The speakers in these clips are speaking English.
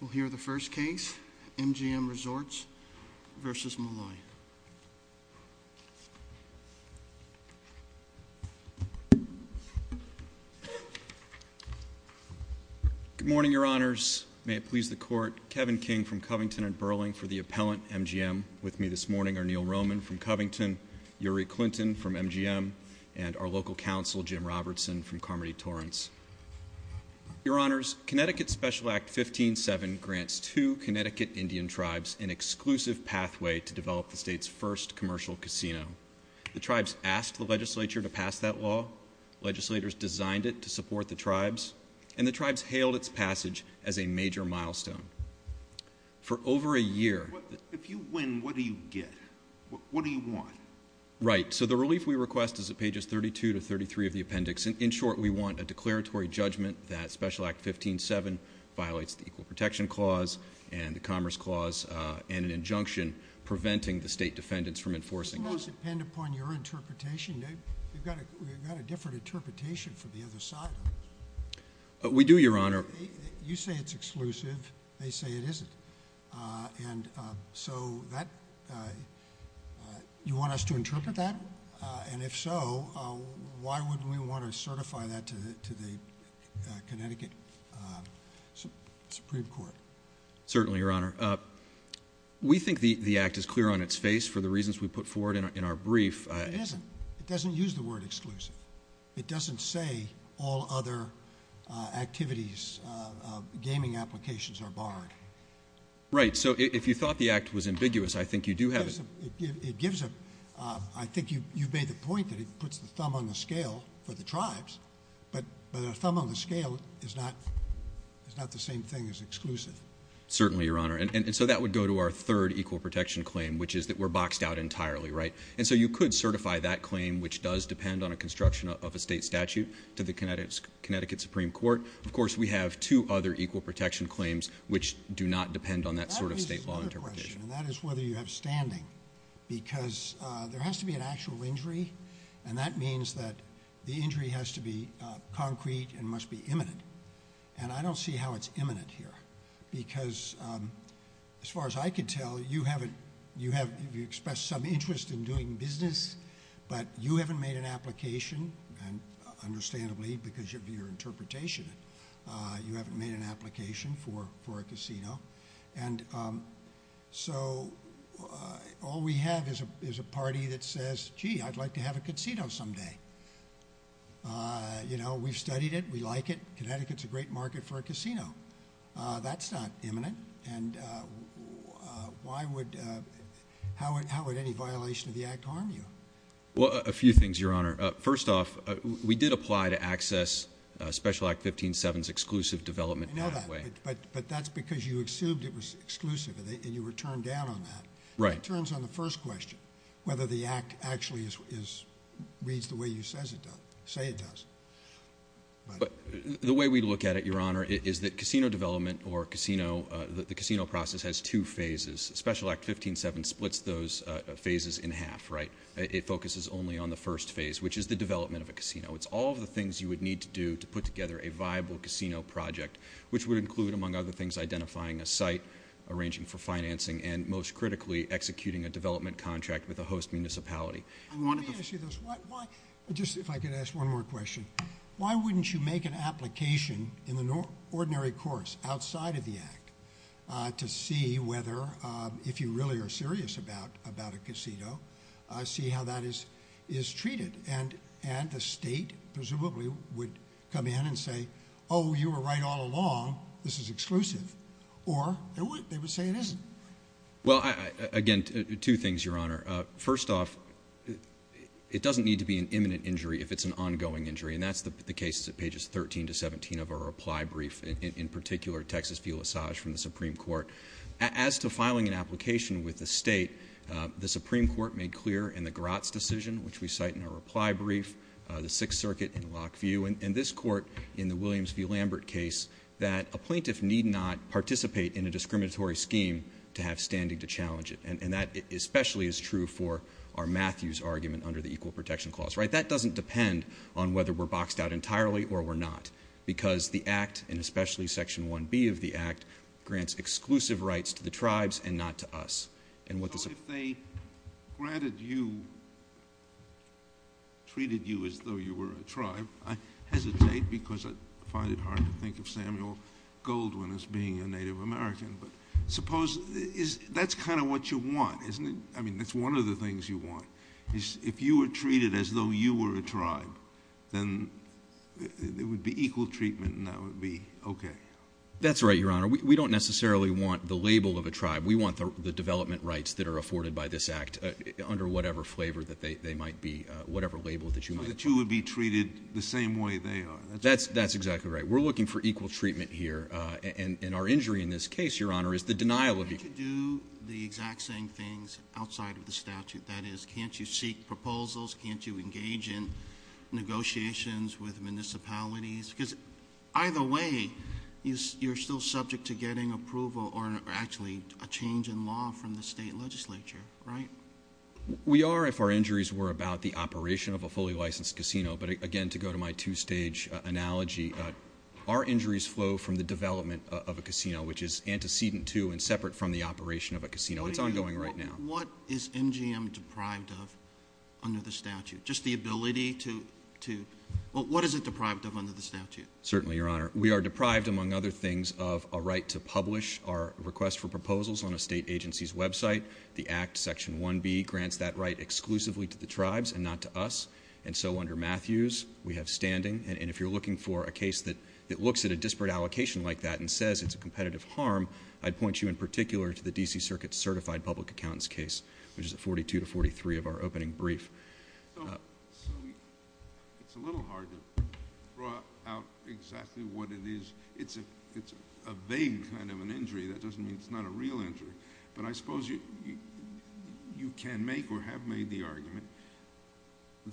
We'll hear the first case, MGM Resorts versus Malloy. Good morning, Your Honors. May it please the Court, Kevin King from Covington and Burling for the appellant, MGM. With me this morning are Neil Roman from Covington, Uri Clinton from MGM, and our local counsel, Jim Robertson from Carmody-Torrance. Your Honors, Connecticut Special Act 15-7 grants two Connecticut Indian tribes an exclusive pathway to develop the state's first commercial casino. The tribes asked the legislature to pass that law, legislators designed it to support the tribes, and the tribes hailed its passage as a major milestone. For over a year... If you win, what do you get? What do you want? Right. So the relief we request is at pages 32 to 33 of the appendix. In short, we want a declaratory judgment that Special Act 15-7 violates the Equal Protection Clause and the Commerce Clause and an injunction preventing the state defendants from enforcing it. Doesn't that depend upon your interpretation? You've got a different interpretation from the other side. We do, Your Honor. You say it's exclusive. They say it isn't. So you want us to interpret that? And if so, why would we want to certify that to the Connecticut Supreme Court? Certainly, Your Honor. We think the act is clear on its face for the reasons we put forward in our brief. It isn't. It doesn't use the word exclusive. It doesn't say all other activities, gaming applications are barred. Right. So if you thought the act was ambiguous, I think you do have... It gives a... I think you've made the point that it puts the thumb on the scale for the tribes, but a thumb on the scale is not the same thing as exclusive. Certainly, Your Honor. And so that would go to our third Equal Protection Claim, which is that we're boxed out entirely, right? And so you could certify that claim, which does depend on a construction of a state statute, to the Connecticut Supreme Court. Of course, we have two other Equal Protection Claims, which do not depend on that sort of state law interpretation. That is another question, and that is whether you have standing. Because there has to be an actual injury, and that means that the injury has to be concrete and must be imminent. And I don't see how it's imminent here, because as far as I can tell, you have expressed some interest in doing business, but you haven't made an application, and understandably, because of your interpretation, you haven't made an application for a casino. And so all we have is a party that says, gee, I'd like to have a casino someday. You know, we've studied it. We like it. Connecticut's a great market for a casino. That's not imminent, and how would any violation of the Act harm you? Well, a few things, Your Honor. First off, we did apply to access Special Act 15-7's exclusive development pathway. I know that, but that's because you assumed it was exclusive, and you were turned down on that. Right. That turns on the first question, whether the Act actually reads the way you say it does. The way we look at it, Your Honor, is that casino development or the casino process has two phases. Special Act 15-7 splits those phases in half, right? It focuses only on the first phase, which is the development of a casino. It's all of the things you would need to do to put together a viable casino project, which would include, among other things, identifying a site, arranging for financing, and most critically, executing a development contract with a host municipality. Let me ask you this. Just if I could ask one more question. Why wouldn't you make an application in the ordinary course outside of the Act to see whether, if you really are serious about a casino, see how that is treated? And the state, presumably, would come in and say, oh, you were right all along. This is exclusive. Or they would say it isn't. Well, again, two things, Your Honor. First off, it doesn't need to be an imminent injury if it's an ongoing injury, and that's the case at pages 13 to 17 of our reply brief, in particular, Texas View Lissage from the Supreme Court. As to filing an application with the state, the Supreme Court made clear in the Gratz decision, which we cite in our reply brief, the Sixth Circuit in Lockview, and this court in the Williams v. Lambert case, that a plaintiff need not participate in a discriminatory scheme to have standing to challenge it. And that especially is true for our Matthews argument under the Equal Protection Clause. That doesn't depend on whether we're boxed out entirely or we're not, because the Act, and especially Section 1B of the Act, grants exclusive rights to the tribes and not to us. So if they granted you, treated you as though you were a tribe, I hesitate because I find it hard to think of Samuel Goldwyn as being a Native American, but suppose that's kind of what you want, isn't it? I mean, that's one of the things you want, is if you were treated as though you were a tribe, then there would be equal treatment and that would be okay. That's right, Your Honor. We don't necessarily want the label of a tribe. We want the development rights that are afforded by this Act under whatever flavor they might be, whatever label that you might call it. So the two would be treated the same way they are. That's exactly right. We're looking for equal treatment here, and our injury in this case, Your Honor, is the denial of equal treatment. Can't you do the exact same things outside of the statute? That is, can't you seek proposals? Can't you engage in negotiations with municipalities? Because either way, you're still subject to getting approval or actually a change in law from the state legislature, right? We are if our injuries were about the operation of a fully licensed casino. But again, to go to my two-stage analogy, our injuries flow from the development of a casino, which is antecedent to and separate from the operation of a casino. It's ongoing right now. What is MGM deprived of under the statute? Just the ability to, well, what is it deprived of under the statute? Certainly, Your Honor. We are deprived, among other things, of a right to publish our request for proposals on a state agency's website. The Act, Section 1B, grants that right exclusively to the tribes and not to us. And so under Matthews, we have standing. And if you're looking for a case that looks at a disparate allocation like that and says it's a competitive harm, I'd point you in particular to the D.C. Circuit Certified Public Accountant's case, which is at 42 to 43 of our opening brief. So it's a little hard to draw out exactly what it is. It's a vague kind of an injury. That doesn't mean it's not a real injury. But I suppose you can make or have made the argument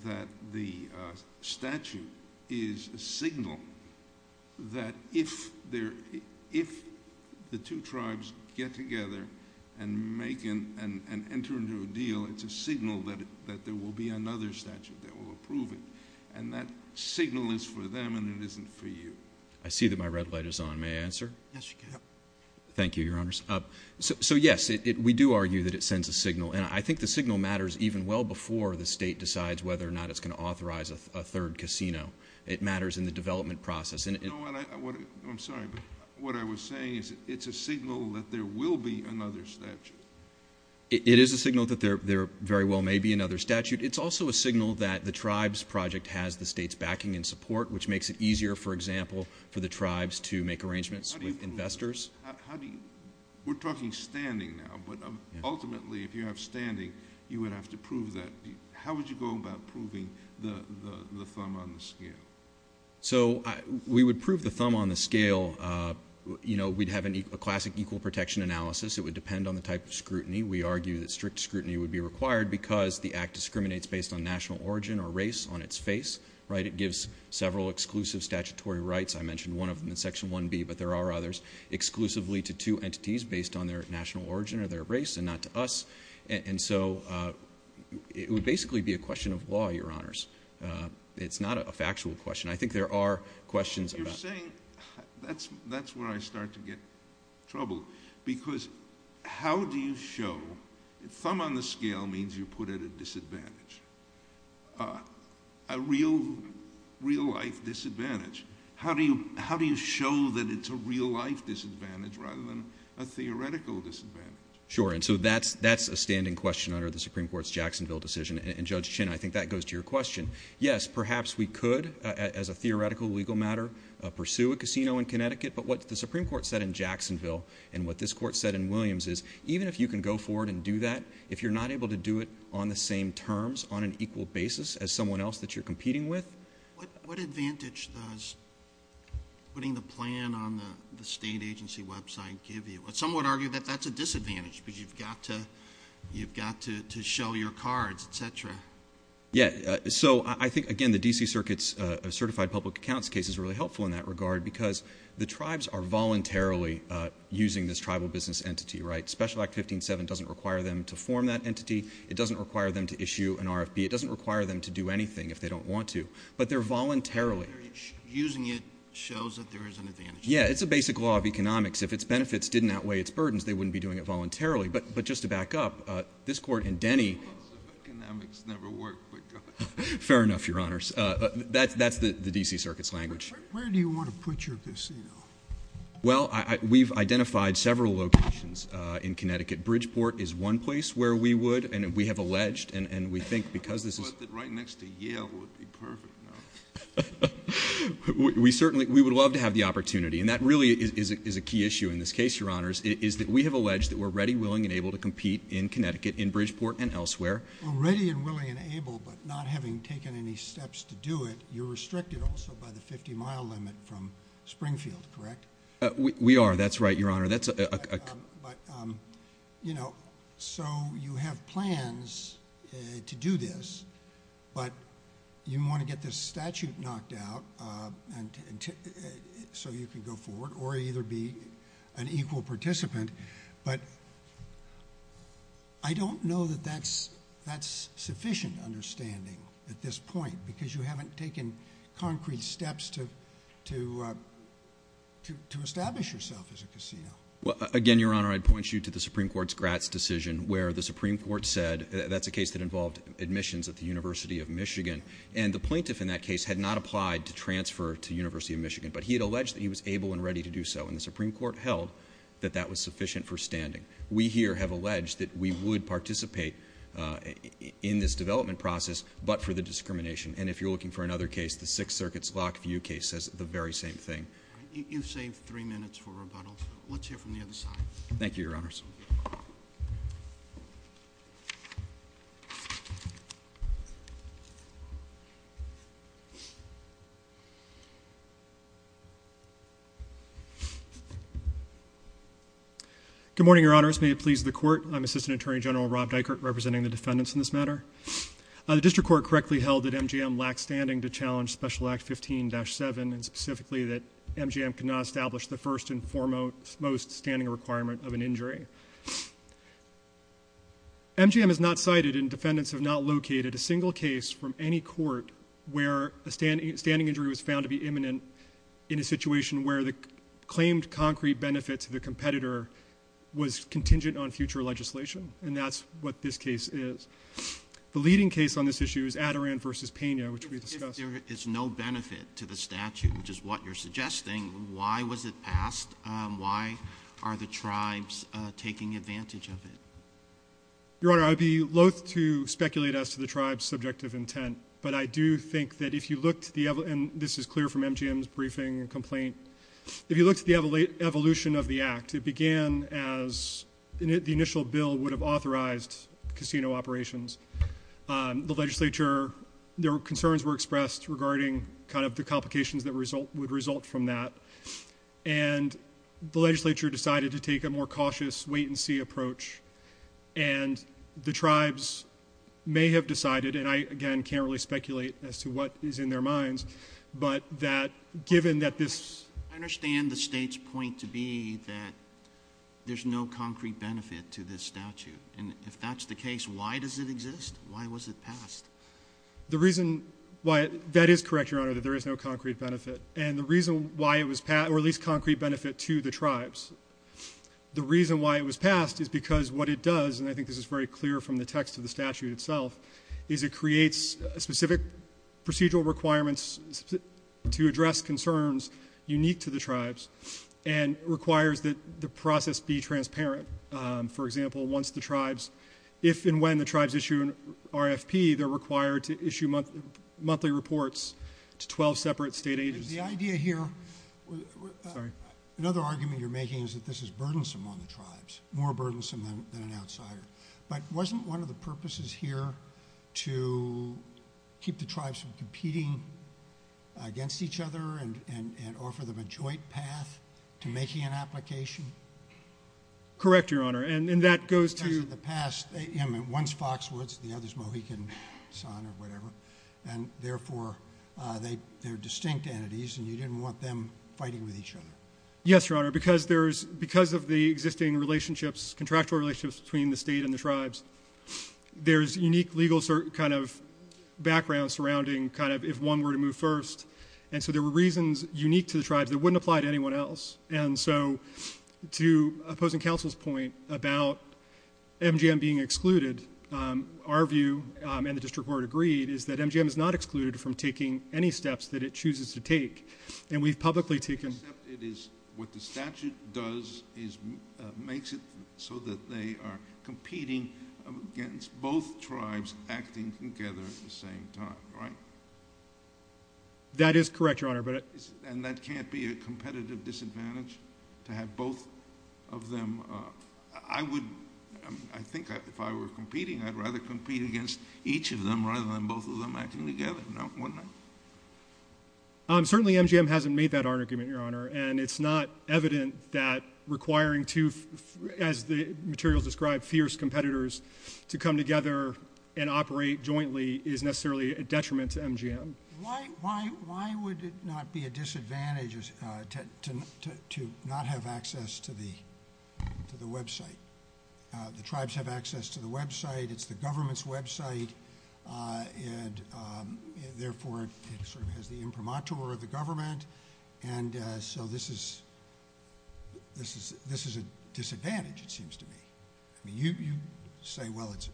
that the statute is a signal that if the two tribes get together and enter into a deal, it's a signal that there will be another statute that will approve it. And that signal is for them and it isn't for you. I see that my red light is on. May I answer? Yes, you can. Thank you, Your Honors. So, yes, we do argue that it sends a signal. And I think the signal matters even well before the state decides whether or not it's going to authorize a third casino. It matters in the development process. I'm sorry, but what I was saying is it's a signal that there will be another statute. It is a signal that there very well may be another statute. It's also a signal that the tribes project has the state's backing and support, which makes it easier, for example, for the tribes to make arrangements with investors. We're talking standing now, but ultimately, if you have standing, you would have to prove that. How would you go about proving the thumb on the scale? So we would prove the thumb on the scale. We'd have a classic equal protection analysis. It would depend on the type of scrutiny. We argue that strict scrutiny would be required because the Act discriminates based on national origin or race on its face. It gives several exclusive statutory rights. I mentioned one of them in Section 1B, but there are others exclusively to two entities based on their national origin or their race and not to us. And so it would basically be a question of law, Your Honors. It's not a factual question. I think there are questions about it. You're saying that's where I start to get trouble because how do you show the thumb on the scale means you put at a disadvantage, a real-life disadvantage. How do you show that it's a real-life disadvantage rather than a theoretical disadvantage? Sure, and so that's a standing question under the Supreme Court's Jacksonville decision. And, Judge Chin, I think that goes to your question. Yes, perhaps we could, as a theoretical legal matter, pursue a casino in Connecticut. But what the Supreme Court said in Jacksonville and what this Court said in Williams is even if you can go forward and do that, if you're not able to do it on the same terms on an equal basis as someone else that you're competing with. What advantage does putting the plan on the state agency website give you? Some would argue that that's a disadvantage because you've got to show your cards, et cetera. Yeah, so I think, again, the D.C. Circuit's certified public accounts case is really helpful in that regard because the tribes are voluntarily using this tribal business entity, right? Special Act 15-7 doesn't require them to form that entity. It doesn't require them to issue an RFP. It doesn't require them to do anything if they don't want to. But they're voluntarily. Using it shows that there is an advantage. Yeah, it's a basic law of economics. If its benefits didn't outweigh its burdens, they wouldn't be doing it voluntarily. But just to back up, this Court in Denny. Economics never worked, but God. Fair enough, Your Honors. That's the D.C. Circuit's language. Where do you want to put your casino? Well, we've identified several locations in Connecticut. Bridgeport is one place where we would, and we have alleged, and we think because this is... I thought that right next to Yale would be perfect. We would love to have the opportunity. And that really is a key issue in this case, Your Honors, is that we have alleged that we're ready, willing, and able to compete in Connecticut, in Bridgeport, and elsewhere. Well, ready and willing and able, but not having taken any steps to do it, you're restricted also by the 50-mile limit from Springfield, correct? We are. That's right, Your Honor. But, you know, so you have plans to do this, but you want to get this statute knocked out so you can go forward, or either be an equal participant. But I don't know that that's sufficient understanding at this point because you haven't taken concrete steps to establish yourself as a casino. Again, Your Honor, I'd point you to the Supreme Court's Gratz decision where the Supreme Court said that's a case that involved admissions at the University of Michigan, and the plaintiff in that case had not applied to transfer to the University of Michigan, but he had alleged that he was able and ready to do so, and the Supreme Court held that that was sufficient for standing. We here have alleged that we would participate in this development process, but for the discrimination, and if you're looking for another case, the Sixth Circuit's Lockview case says the very same thing. You've saved three minutes for rebuttal. Let's hear from the other side. Thank you, Your Honors. Good morning, Your Honors. May it please the Court, I'm Assistant Attorney General Rob Dykert, representing the defendants in this matter. The District Court correctly held that MGM lacked standing to challenge Special Act 15-7, and specifically that MGM could not establish the first and foremost standing requirement of an injury. MGM is not cited, and defendants have not located a single case from any court where a standing injury was found to be imminent in a situation where the claimed concrete benefit to the competitor was contingent on future legislation, and that's what this case is. The leading case on this issue is Adiran v. Pena, which we discussed. If there is no benefit to the statute, which is what you're suggesting, why was it passed? Why are the tribes taking advantage of it? Your Honor, I would be loath to speculate as to the tribe's subjective intent, but I do think that if you look to the – and this is clear from MGM's briefing and complaint – if you look to the evolution of the act, it began as the initial bill would have authorized casino operations. The legislature – their concerns were expressed regarding kind of the complications that would result from that, and the legislature decided to take a more cautious wait-and-see approach, and the tribes may have decided – and I, again, can't really speculate as to what is in their minds – but that given that this – I understand the state's point to be that there's no concrete benefit to this statute, and if that's the case, why does it exist? Why was it passed? The reason why – that is correct, Your Honor, that there is no concrete benefit. And the reason why it was – or at least concrete benefit to the tribes. The reason why it was passed is because what it does – and I think this is very clear from the text of the statute itself – is it creates specific procedural requirements to address concerns unique to the tribes and requires that the process be transparent. For example, once the tribes – if and when the tribes issue an RFP, they're required to issue monthly reports to 12 separate state agencies. The idea here – Sorry. Another argument you're making is that this is burdensome on the tribes, more burdensome than an outsider. But wasn't one of the purposes here to keep the tribes from competing against each other and offer them a joint path to making an application? Correct, Your Honor, and that goes to – Because in the past, one's Foxwoods, the other's Mohican Sun or whatever, and therefore they're distinct entities and you didn't want them fighting with each other. Yes, Your Honor, because there's – because of the existing relationships, contractual relationships between the state and the tribes, there's unique legal kind of background surrounding kind of if one were to move first. And so there were reasons unique to the tribes that wouldn't apply to anyone else. And so to opposing counsel's point about MGM being excluded, our view, and the district court agreed, is that MGM is not excluded from taking any steps that it chooses to take. And we've publicly taken – Except it is what the statute does is makes it so that they are competing against both tribes acting together at the same time, right? That is correct, Your Honor. And that can't be a competitive disadvantage to have both of them? I would – I think if I were competing, I'd rather compete against each of them rather than both of them acting together, wouldn't I? Certainly MGM hasn't made that argument, Your Honor, and it's not evident that requiring two, as the materials describe, fierce competitors, to come together and operate jointly is necessarily a detriment to MGM. Why would it not be a disadvantage to not have access to the website? The tribes have access to the website. It's the government's website, and therefore it sort of has the imprimatur of the government. And so this is a disadvantage, it seems to me. You say, well, it's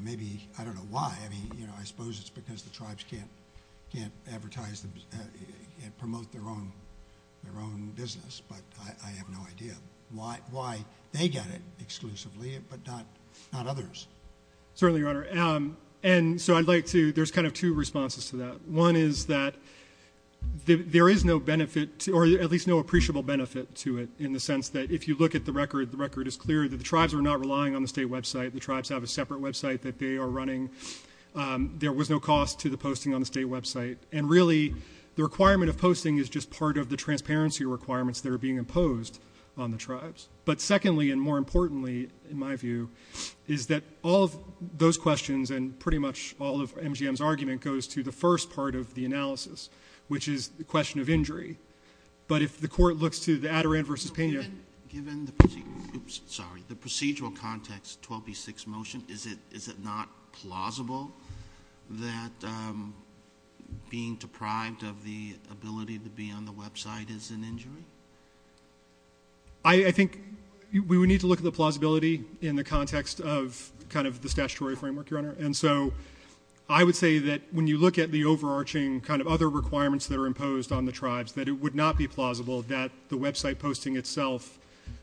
maybe – I don't know why. I mean, you know, I suppose it's because the tribes can't advertise and promote their own business, but I have no idea why they get it exclusively but not others. Certainly, Your Honor. And so I'd like to – there's kind of two responses to that. One is that there is no benefit – or at least no appreciable benefit to it in the sense that if you look at the record, the record is clear that the tribes are not relying on the state website. The tribes have a separate website that they are running. There was no cost to the posting on the state website. And really, the requirement of posting is just part of the transparency requirements that are being imposed on the tribes. But secondly, and more importantly, in my view, is that all of those questions and pretty much all of MGM's argument goes to the first part of the analysis, which is the question of injury. But if the Court looks to the Adirondack v. Pena – is it not plausible that being deprived of the ability to be on the website is an injury? I think we would need to look at the plausibility in the context of kind of the statutory framework, Your Honor. And so I would say that when you look at the overarching kind of other requirements that are imposed on the tribes, that it would not be plausible that the website posting itself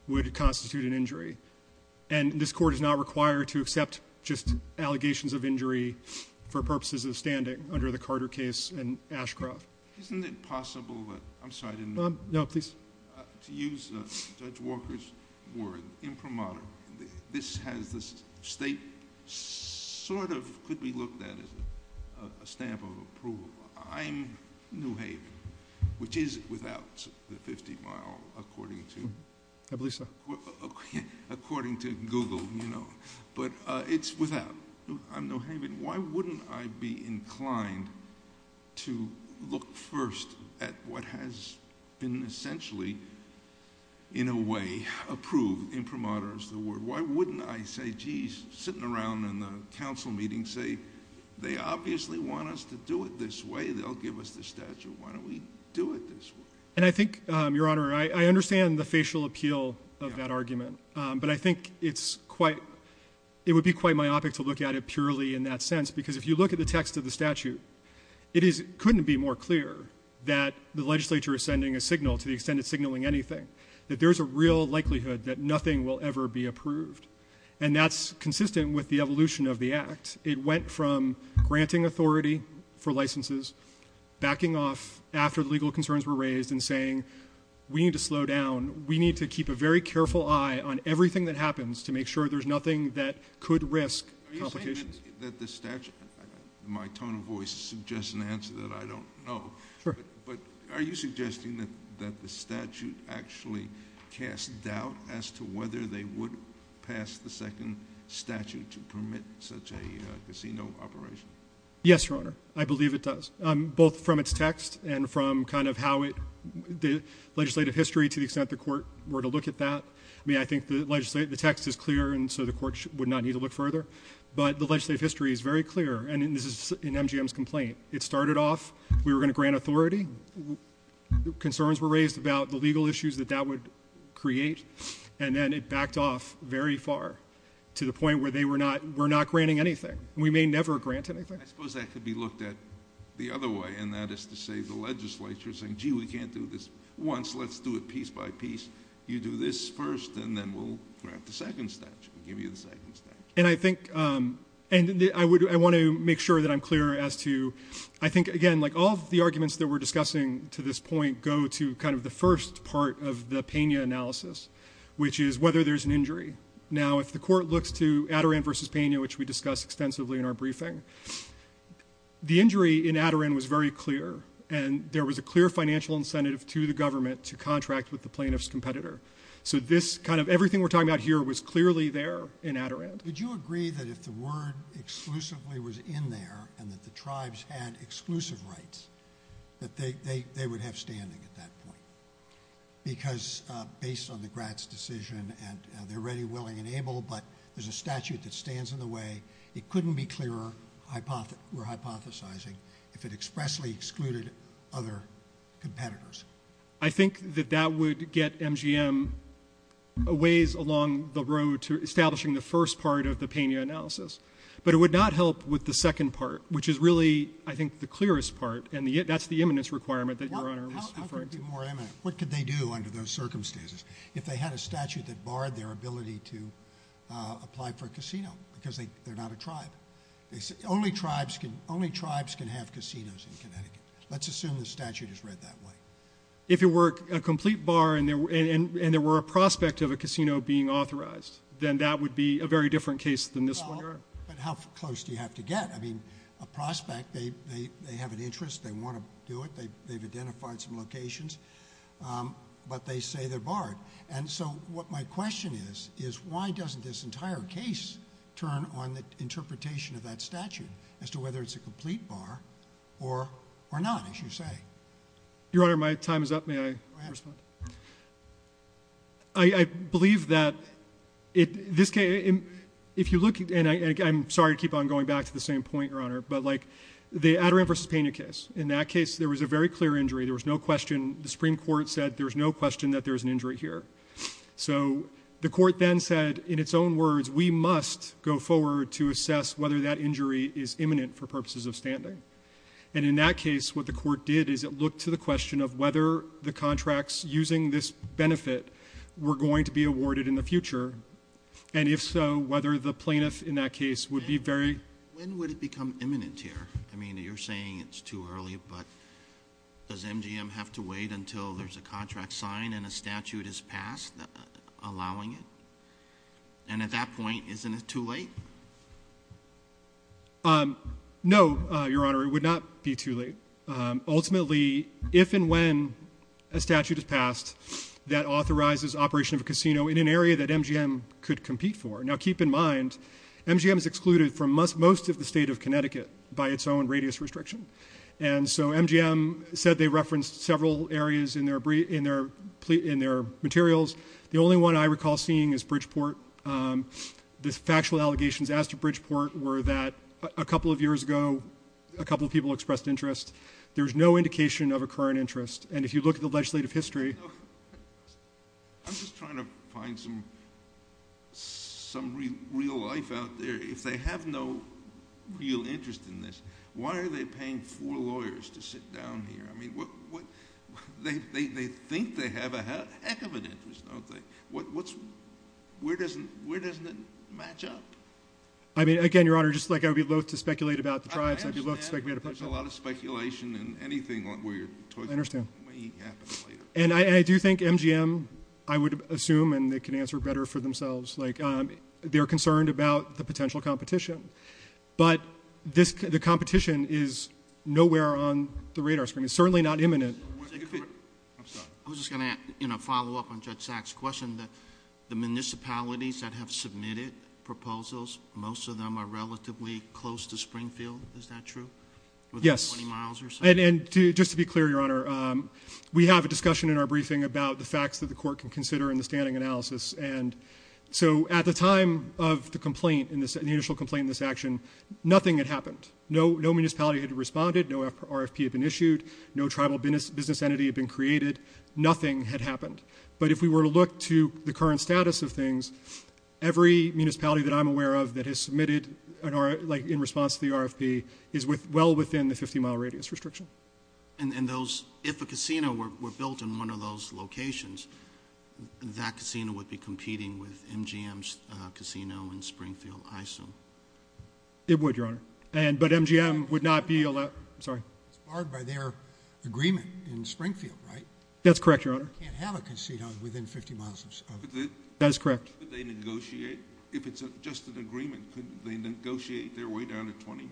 would constitute an injury. And this Court is not required to accept just allegations of injury for purposes of standing under the Carter case and Ashcroft. Isn't it possible that – I'm sorry, I didn't – No, please. To use Judge Walker's word, imprimatur, this has the state sort of could be looked at as a stamp of approval. I'm New Haven, which is without the 50-mile according to – I believe so. According to Google, you know. But it's without. I'm New Haven. Why wouldn't I be inclined to look first at what has been essentially, in a way, approved, imprimatur is the word. Why wouldn't I say, geez, sitting around in the council meeting, say, they obviously want us to do it this way. They'll give us the statute. Why don't we do it this way? And I think, Your Honor, I understand the facial appeal of that argument. But I think it's quite – it would be quite myopic to look at it purely in that sense because if you look at the text of the statute, it couldn't be more clear that the legislature is sending a signal, to the extent it's signaling anything, that there's a real likelihood that nothing will ever be approved. And that's consistent with the evolution of the Act. It went from granting authority for licenses, backing off after the legal concerns were raised, and saying we need to slow down. We need to keep a very careful eye on everything that happens to make sure there's nothing that could risk complications. Are you saying that the statute – my tone of voice suggests an answer that I don't know. Sure. But are you suggesting that the statute actually casts doubt as to whether they would pass the second statute to permit such a casino operation? Yes, Your Honor. I believe it does, both from its text and from kind of how it – the legislative history to the extent the court were to look at that. I mean, I think the text is clear, and so the court would not need to look further. But the legislative history is very clear. And this is in MGM's complaint. It started off we were going to grant authority. Concerns were raised about the legal issues that that would create. And then it backed off very far to the point where they were not – we're not granting anything. We may never grant anything. I suppose that could be looked at the other way, and that is to say the legislature is saying, gee, we can't do this once. Let's do it piece by piece. You do this first, and then we'll grant the second statute, give you the second statute. And I think – and I want to make sure that I'm clear as to – I think, again, like all of the arguments that we're discussing to this point go to kind of the first part of the Pena analysis, which is whether there's an injury. Now, if the court looks to Adirondack v. Pena, which we discussed extensively in our briefing, the injury in Adirondack was very clear, and there was a clear financial incentive to the government to contract with the plaintiff's competitor. So this kind of – everything we're talking about here was clearly there in Adirondack. Would you agree that if the word exclusively was in there and that the tribes had exclusive rights, that they would have standing at that point? Because based on the Gratz decision, and they're ready, willing, and able, but there's a statute that stands in the way. It couldn't be clearer, we're hypothesizing, if it expressly excluded other competitors. I think that that would get MGM a ways along the road to establishing the first part of the Pena analysis, but it would not help with the second part, which is really, I think, the clearest part, and that's the imminence requirement that Your Honor was referring to. How could it be more imminent? What could they do under those circumstances if they had a statute that barred their ability to apply for a casino because they're not a tribe? Only tribes can have casinos in Connecticut. Let's assume the statute is read that way. If it were a complete bar and there were a prospect of a casino being authorized, then that would be a very different case than this one, Your Honor. But how close do you have to get? I mean, a prospect, they have an interest, they want to do it, they've identified some locations, but they say they're barred. And so what my question is is why doesn't this entire case turn on the interpretation of that statute as to whether it's a complete bar or not, as you say? Your Honor, my time is up. May I respond? Go ahead. I believe that this case, if you look, and I'm sorry to keep on going back to the same point, Your Honor, but like the Adirondacks v. Pena case, in that case there was a very clear injury. There was no question. The Supreme Court said there's no question that there's an injury here. So the court then said, in its own words, we must go forward to assess whether that injury is imminent for purposes of standing. And in that case what the court did is it looked to the question of whether the contracts using this benefit were going to be awarded in the future, and if so, whether the plaintiff in that case would be very ---- When would it become imminent here? I mean, you're saying it's too early, but does MGM have to wait until there's a contract signed and a statute is passed allowing it? And at that point, isn't it too late? No, Your Honor, it would not be too late. Ultimately, if and when a statute is passed that authorizes operation of a casino in an area that MGM could compete for. Now, keep in mind, MGM is excluded from most of the state of Connecticut by its own radius restriction. And so MGM said they referenced several areas in their materials. The only one I recall seeing is Bridgeport. The factual allegations asked at Bridgeport were that a couple of years ago a couple of people expressed interest. There's no indication of a current interest. And if you look at the legislative history ---- I'm just trying to find some real life out there. If they have no real interest in this, why are they paying four lawyers to sit down here? I mean, they think they have a heck of an interest, don't they? Where doesn't it match up? I mean, again, Your Honor, just like I would be loath to speculate about the tribes, I'd be loath to speculate about the tribes. There's a lot of speculation and anything weird. I understand. It may happen later. And I do think MGM, I would assume, and they can answer better for themselves, they're concerned about the potential competition. But the competition is nowhere on the radar screen. It's certainly not imminent. I'm sorry. I was just going to follow up on Judge Sachs' question. The municipalities that have submitted proposals, most of them are relatively close to Springfield. Is that true? Yes. Within 20 miles or so? And just to be clear, Your Honor, we have a discussion in our briefing about the facts that the court can consider in the standing analysis. And so at the time of the initial complaint in this action, nothing had happened. No municipality had responded. No RFP had been issued. No tribal business entity had been created. Nothing had happened. But if we were to look to the current status of things, every municipality that I'm aware of that has submitted in response to the RFP is well within the 50-mile radius restriction. And if a casino were built in one of those locations, that casino would be competing with MGM's casino in Springfield, I assume? It would, Your Honor. But MGM would not be allowed. It's barred by their agreement in Springfield, right? That's correct, Your Honor. They can't have a casino within 50 miles of it. That is correct. Could they negotiate? If it's just an agreement, could they negotiate their way down to 20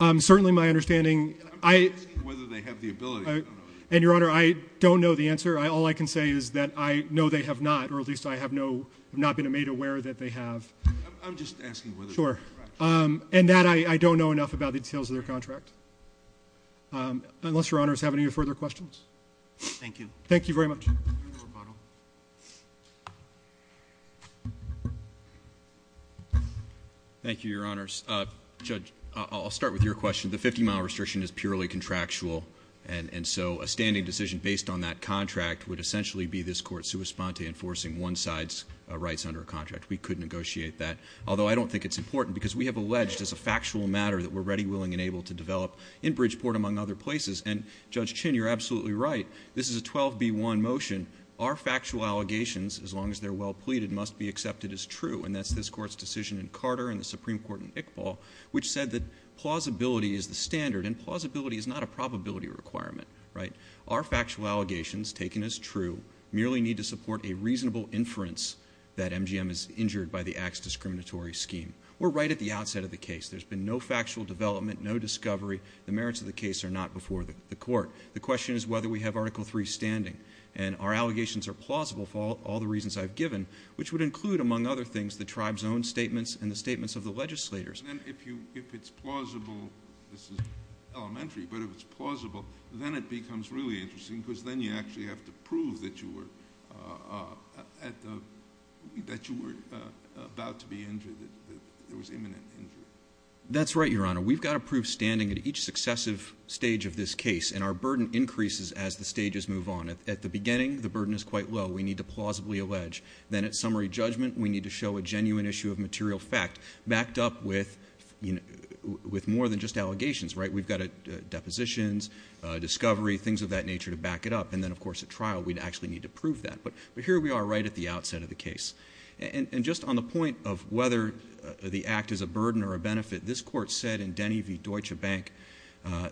miles? Certainly, my understanding ‑‑ I'm just asking whether they have the ability. And, Your Honor, I don't know the answer. All I can say is that I know they have not, or at least I have not been made aware that they have. I'm just asking whether it's correct. Sure. And that I don't know enough about the details of their contract. Unless, Your Honor, I have any further questions. Thank you. Thank you very much. Your rebuttal. Thank you, Your Honors. Judge, I'll start with your question. The 50-mile restriction is purely contractual. And so, a standing decision based on that contract would essentially be this court sua sponte enforcing one side's rights under a contract. We could negotiate that. Although, I don't think it's important because we have alleged as a factual matter that we're ready, willing, and able to develop in Bridgeport, among other places. And, Judge Chin, you're absolutely right. This is a 12B1 motion. Our factual allegations, as long as they're well pleaded, must be accepted as true. And that's this court's decision in Carter and the Supreme Court in Iqbal, which said that plausibility is the standard. And plausibility is not a probability requirement. Our factual allegations, taken as true, merely need to support a reasonable inference that MGM is injured by the Axe discriminatory scheme. We're right at the outset of the case. There's been no factual development, no discovery. The merits of the case are not before the court. The question is whether we have Article III standing. And our allegations are plausible for all the reasons I've given, which would include, among other things, the tribe's own statements and the statements of the legislators. If it's plausible, this is elementary, but if it's plausible, then it becomes really interesting because then you actually have to prove that you were about to be injured, that there was imminent injury. That's right, Your Honor. We've got to prove standing at each successive stage of this case. And our burden increases as the stages move on. At the beginning, the burden is quite low. We need to plausibly allege. Then at summary judgment, we need to show a genuine issue of material fact, backed up with more than just allegations, right? We've got depositions, discovery, things of that nature to back it up. And then, of course, at trial, we'd actually need to prove that. But here we are right at the outset of the case. And just on the point of whether the act is a burden or a benefit, this court said in Denny v. Deutsche Bank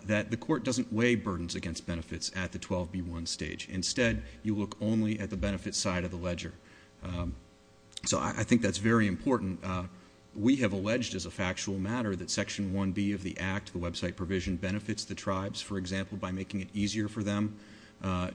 that the court doesn't weigh burdens against benefits at the 12B1 stage. Instead, you look only at the benefit side of the ledger. So I think that's very important. We have alleged as a factual matter that Section 1B of the act, the website provision, benefits the tribes, for example, by making it easier for them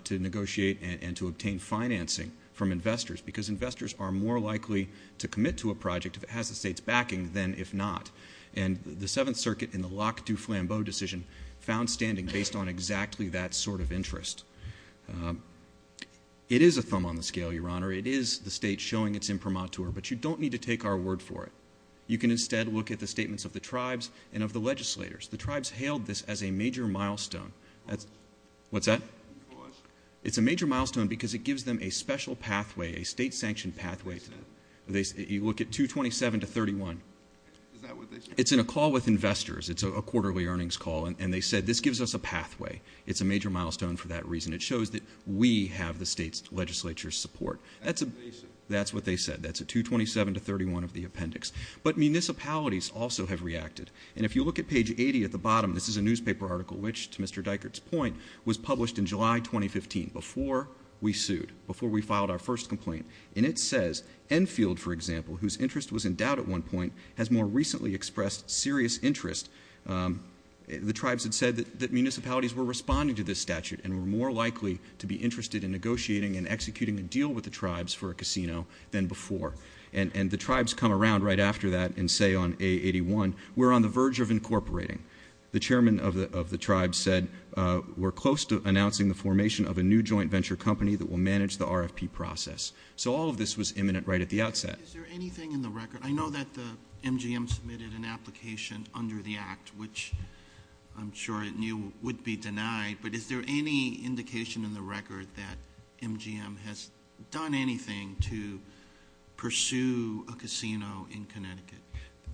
to negotiate and to obtain financing from investors because investors are more likely to commit to a project if it has the state's backing than if not. And the Seventh Circuit in the Locke du Flambeau decision found standing based on exactly that sort of interest. It is a thumb on the scale, Your Honor. It is the state showing its imprimatur. But you don't need to take our word for it. You can instead look at the statements of the tribes and of the legislators. The tribes hailed this as a major milestone. What's that? a state-sanctioned pathway. You look at 227 to 31. Is that what they said? It's in a call with investors. It's a quarterly earnings call, and they said this gives us a pathway. It's a major milestone for that reason. It shows that we have the state's legislature's support. That's what they said. That's at 227 to 31 of the appendix. But municipalities also have reacted. And if you look at page 80 at the bottom, this is a newspaper article, which, to Mr. Dykert's point, was published in July 2015, before we sued, before we filed our first complaint. And it says, Enfield, for example, whose interest was in doubt at one point, has more recently expressed serious interest. The tribes had said that municipalities were responding to this statute and were more likely to be interested in negotiating and executing a deal with the tribes for a casino than before. And the tribes come around right after that and say on A81, we're on the verge of incorporating. The chairman of the tribes said, we're close to announcing the formation of a new joint venture company that will manage the RFP process. So all of this was imminent right at the outset. Is there anything in the record? I know that the MGM submitted an application under the act, which I'm sure it would be denied, but is there any indication in the record that MGM has done anything to pursue a casino in Connecticut?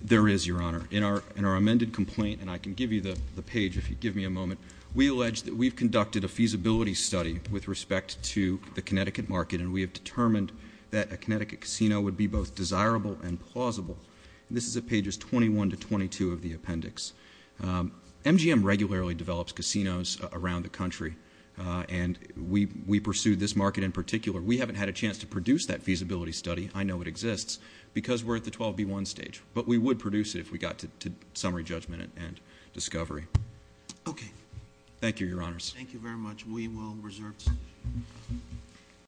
There is, Your Honor. In our amended complaint, and I can give you the page if you give me a moment, we allege that we've conducted a feasibility study with respect to the Connecticut market, and we have determined that a Connecticut casino would be both desirable and plausible. This is at pages 21 to 22 of the appendix. MGM regularly develops casinos around the country, and we pursue this market in particular. We haven't had a chance to produce that feasibility study. I know it exists because we're at the 12B1 stage, but we would produce it if we got to summary judgment and discovery. Okay. Thank you, Your Honors. Thank you very much. We will reserve.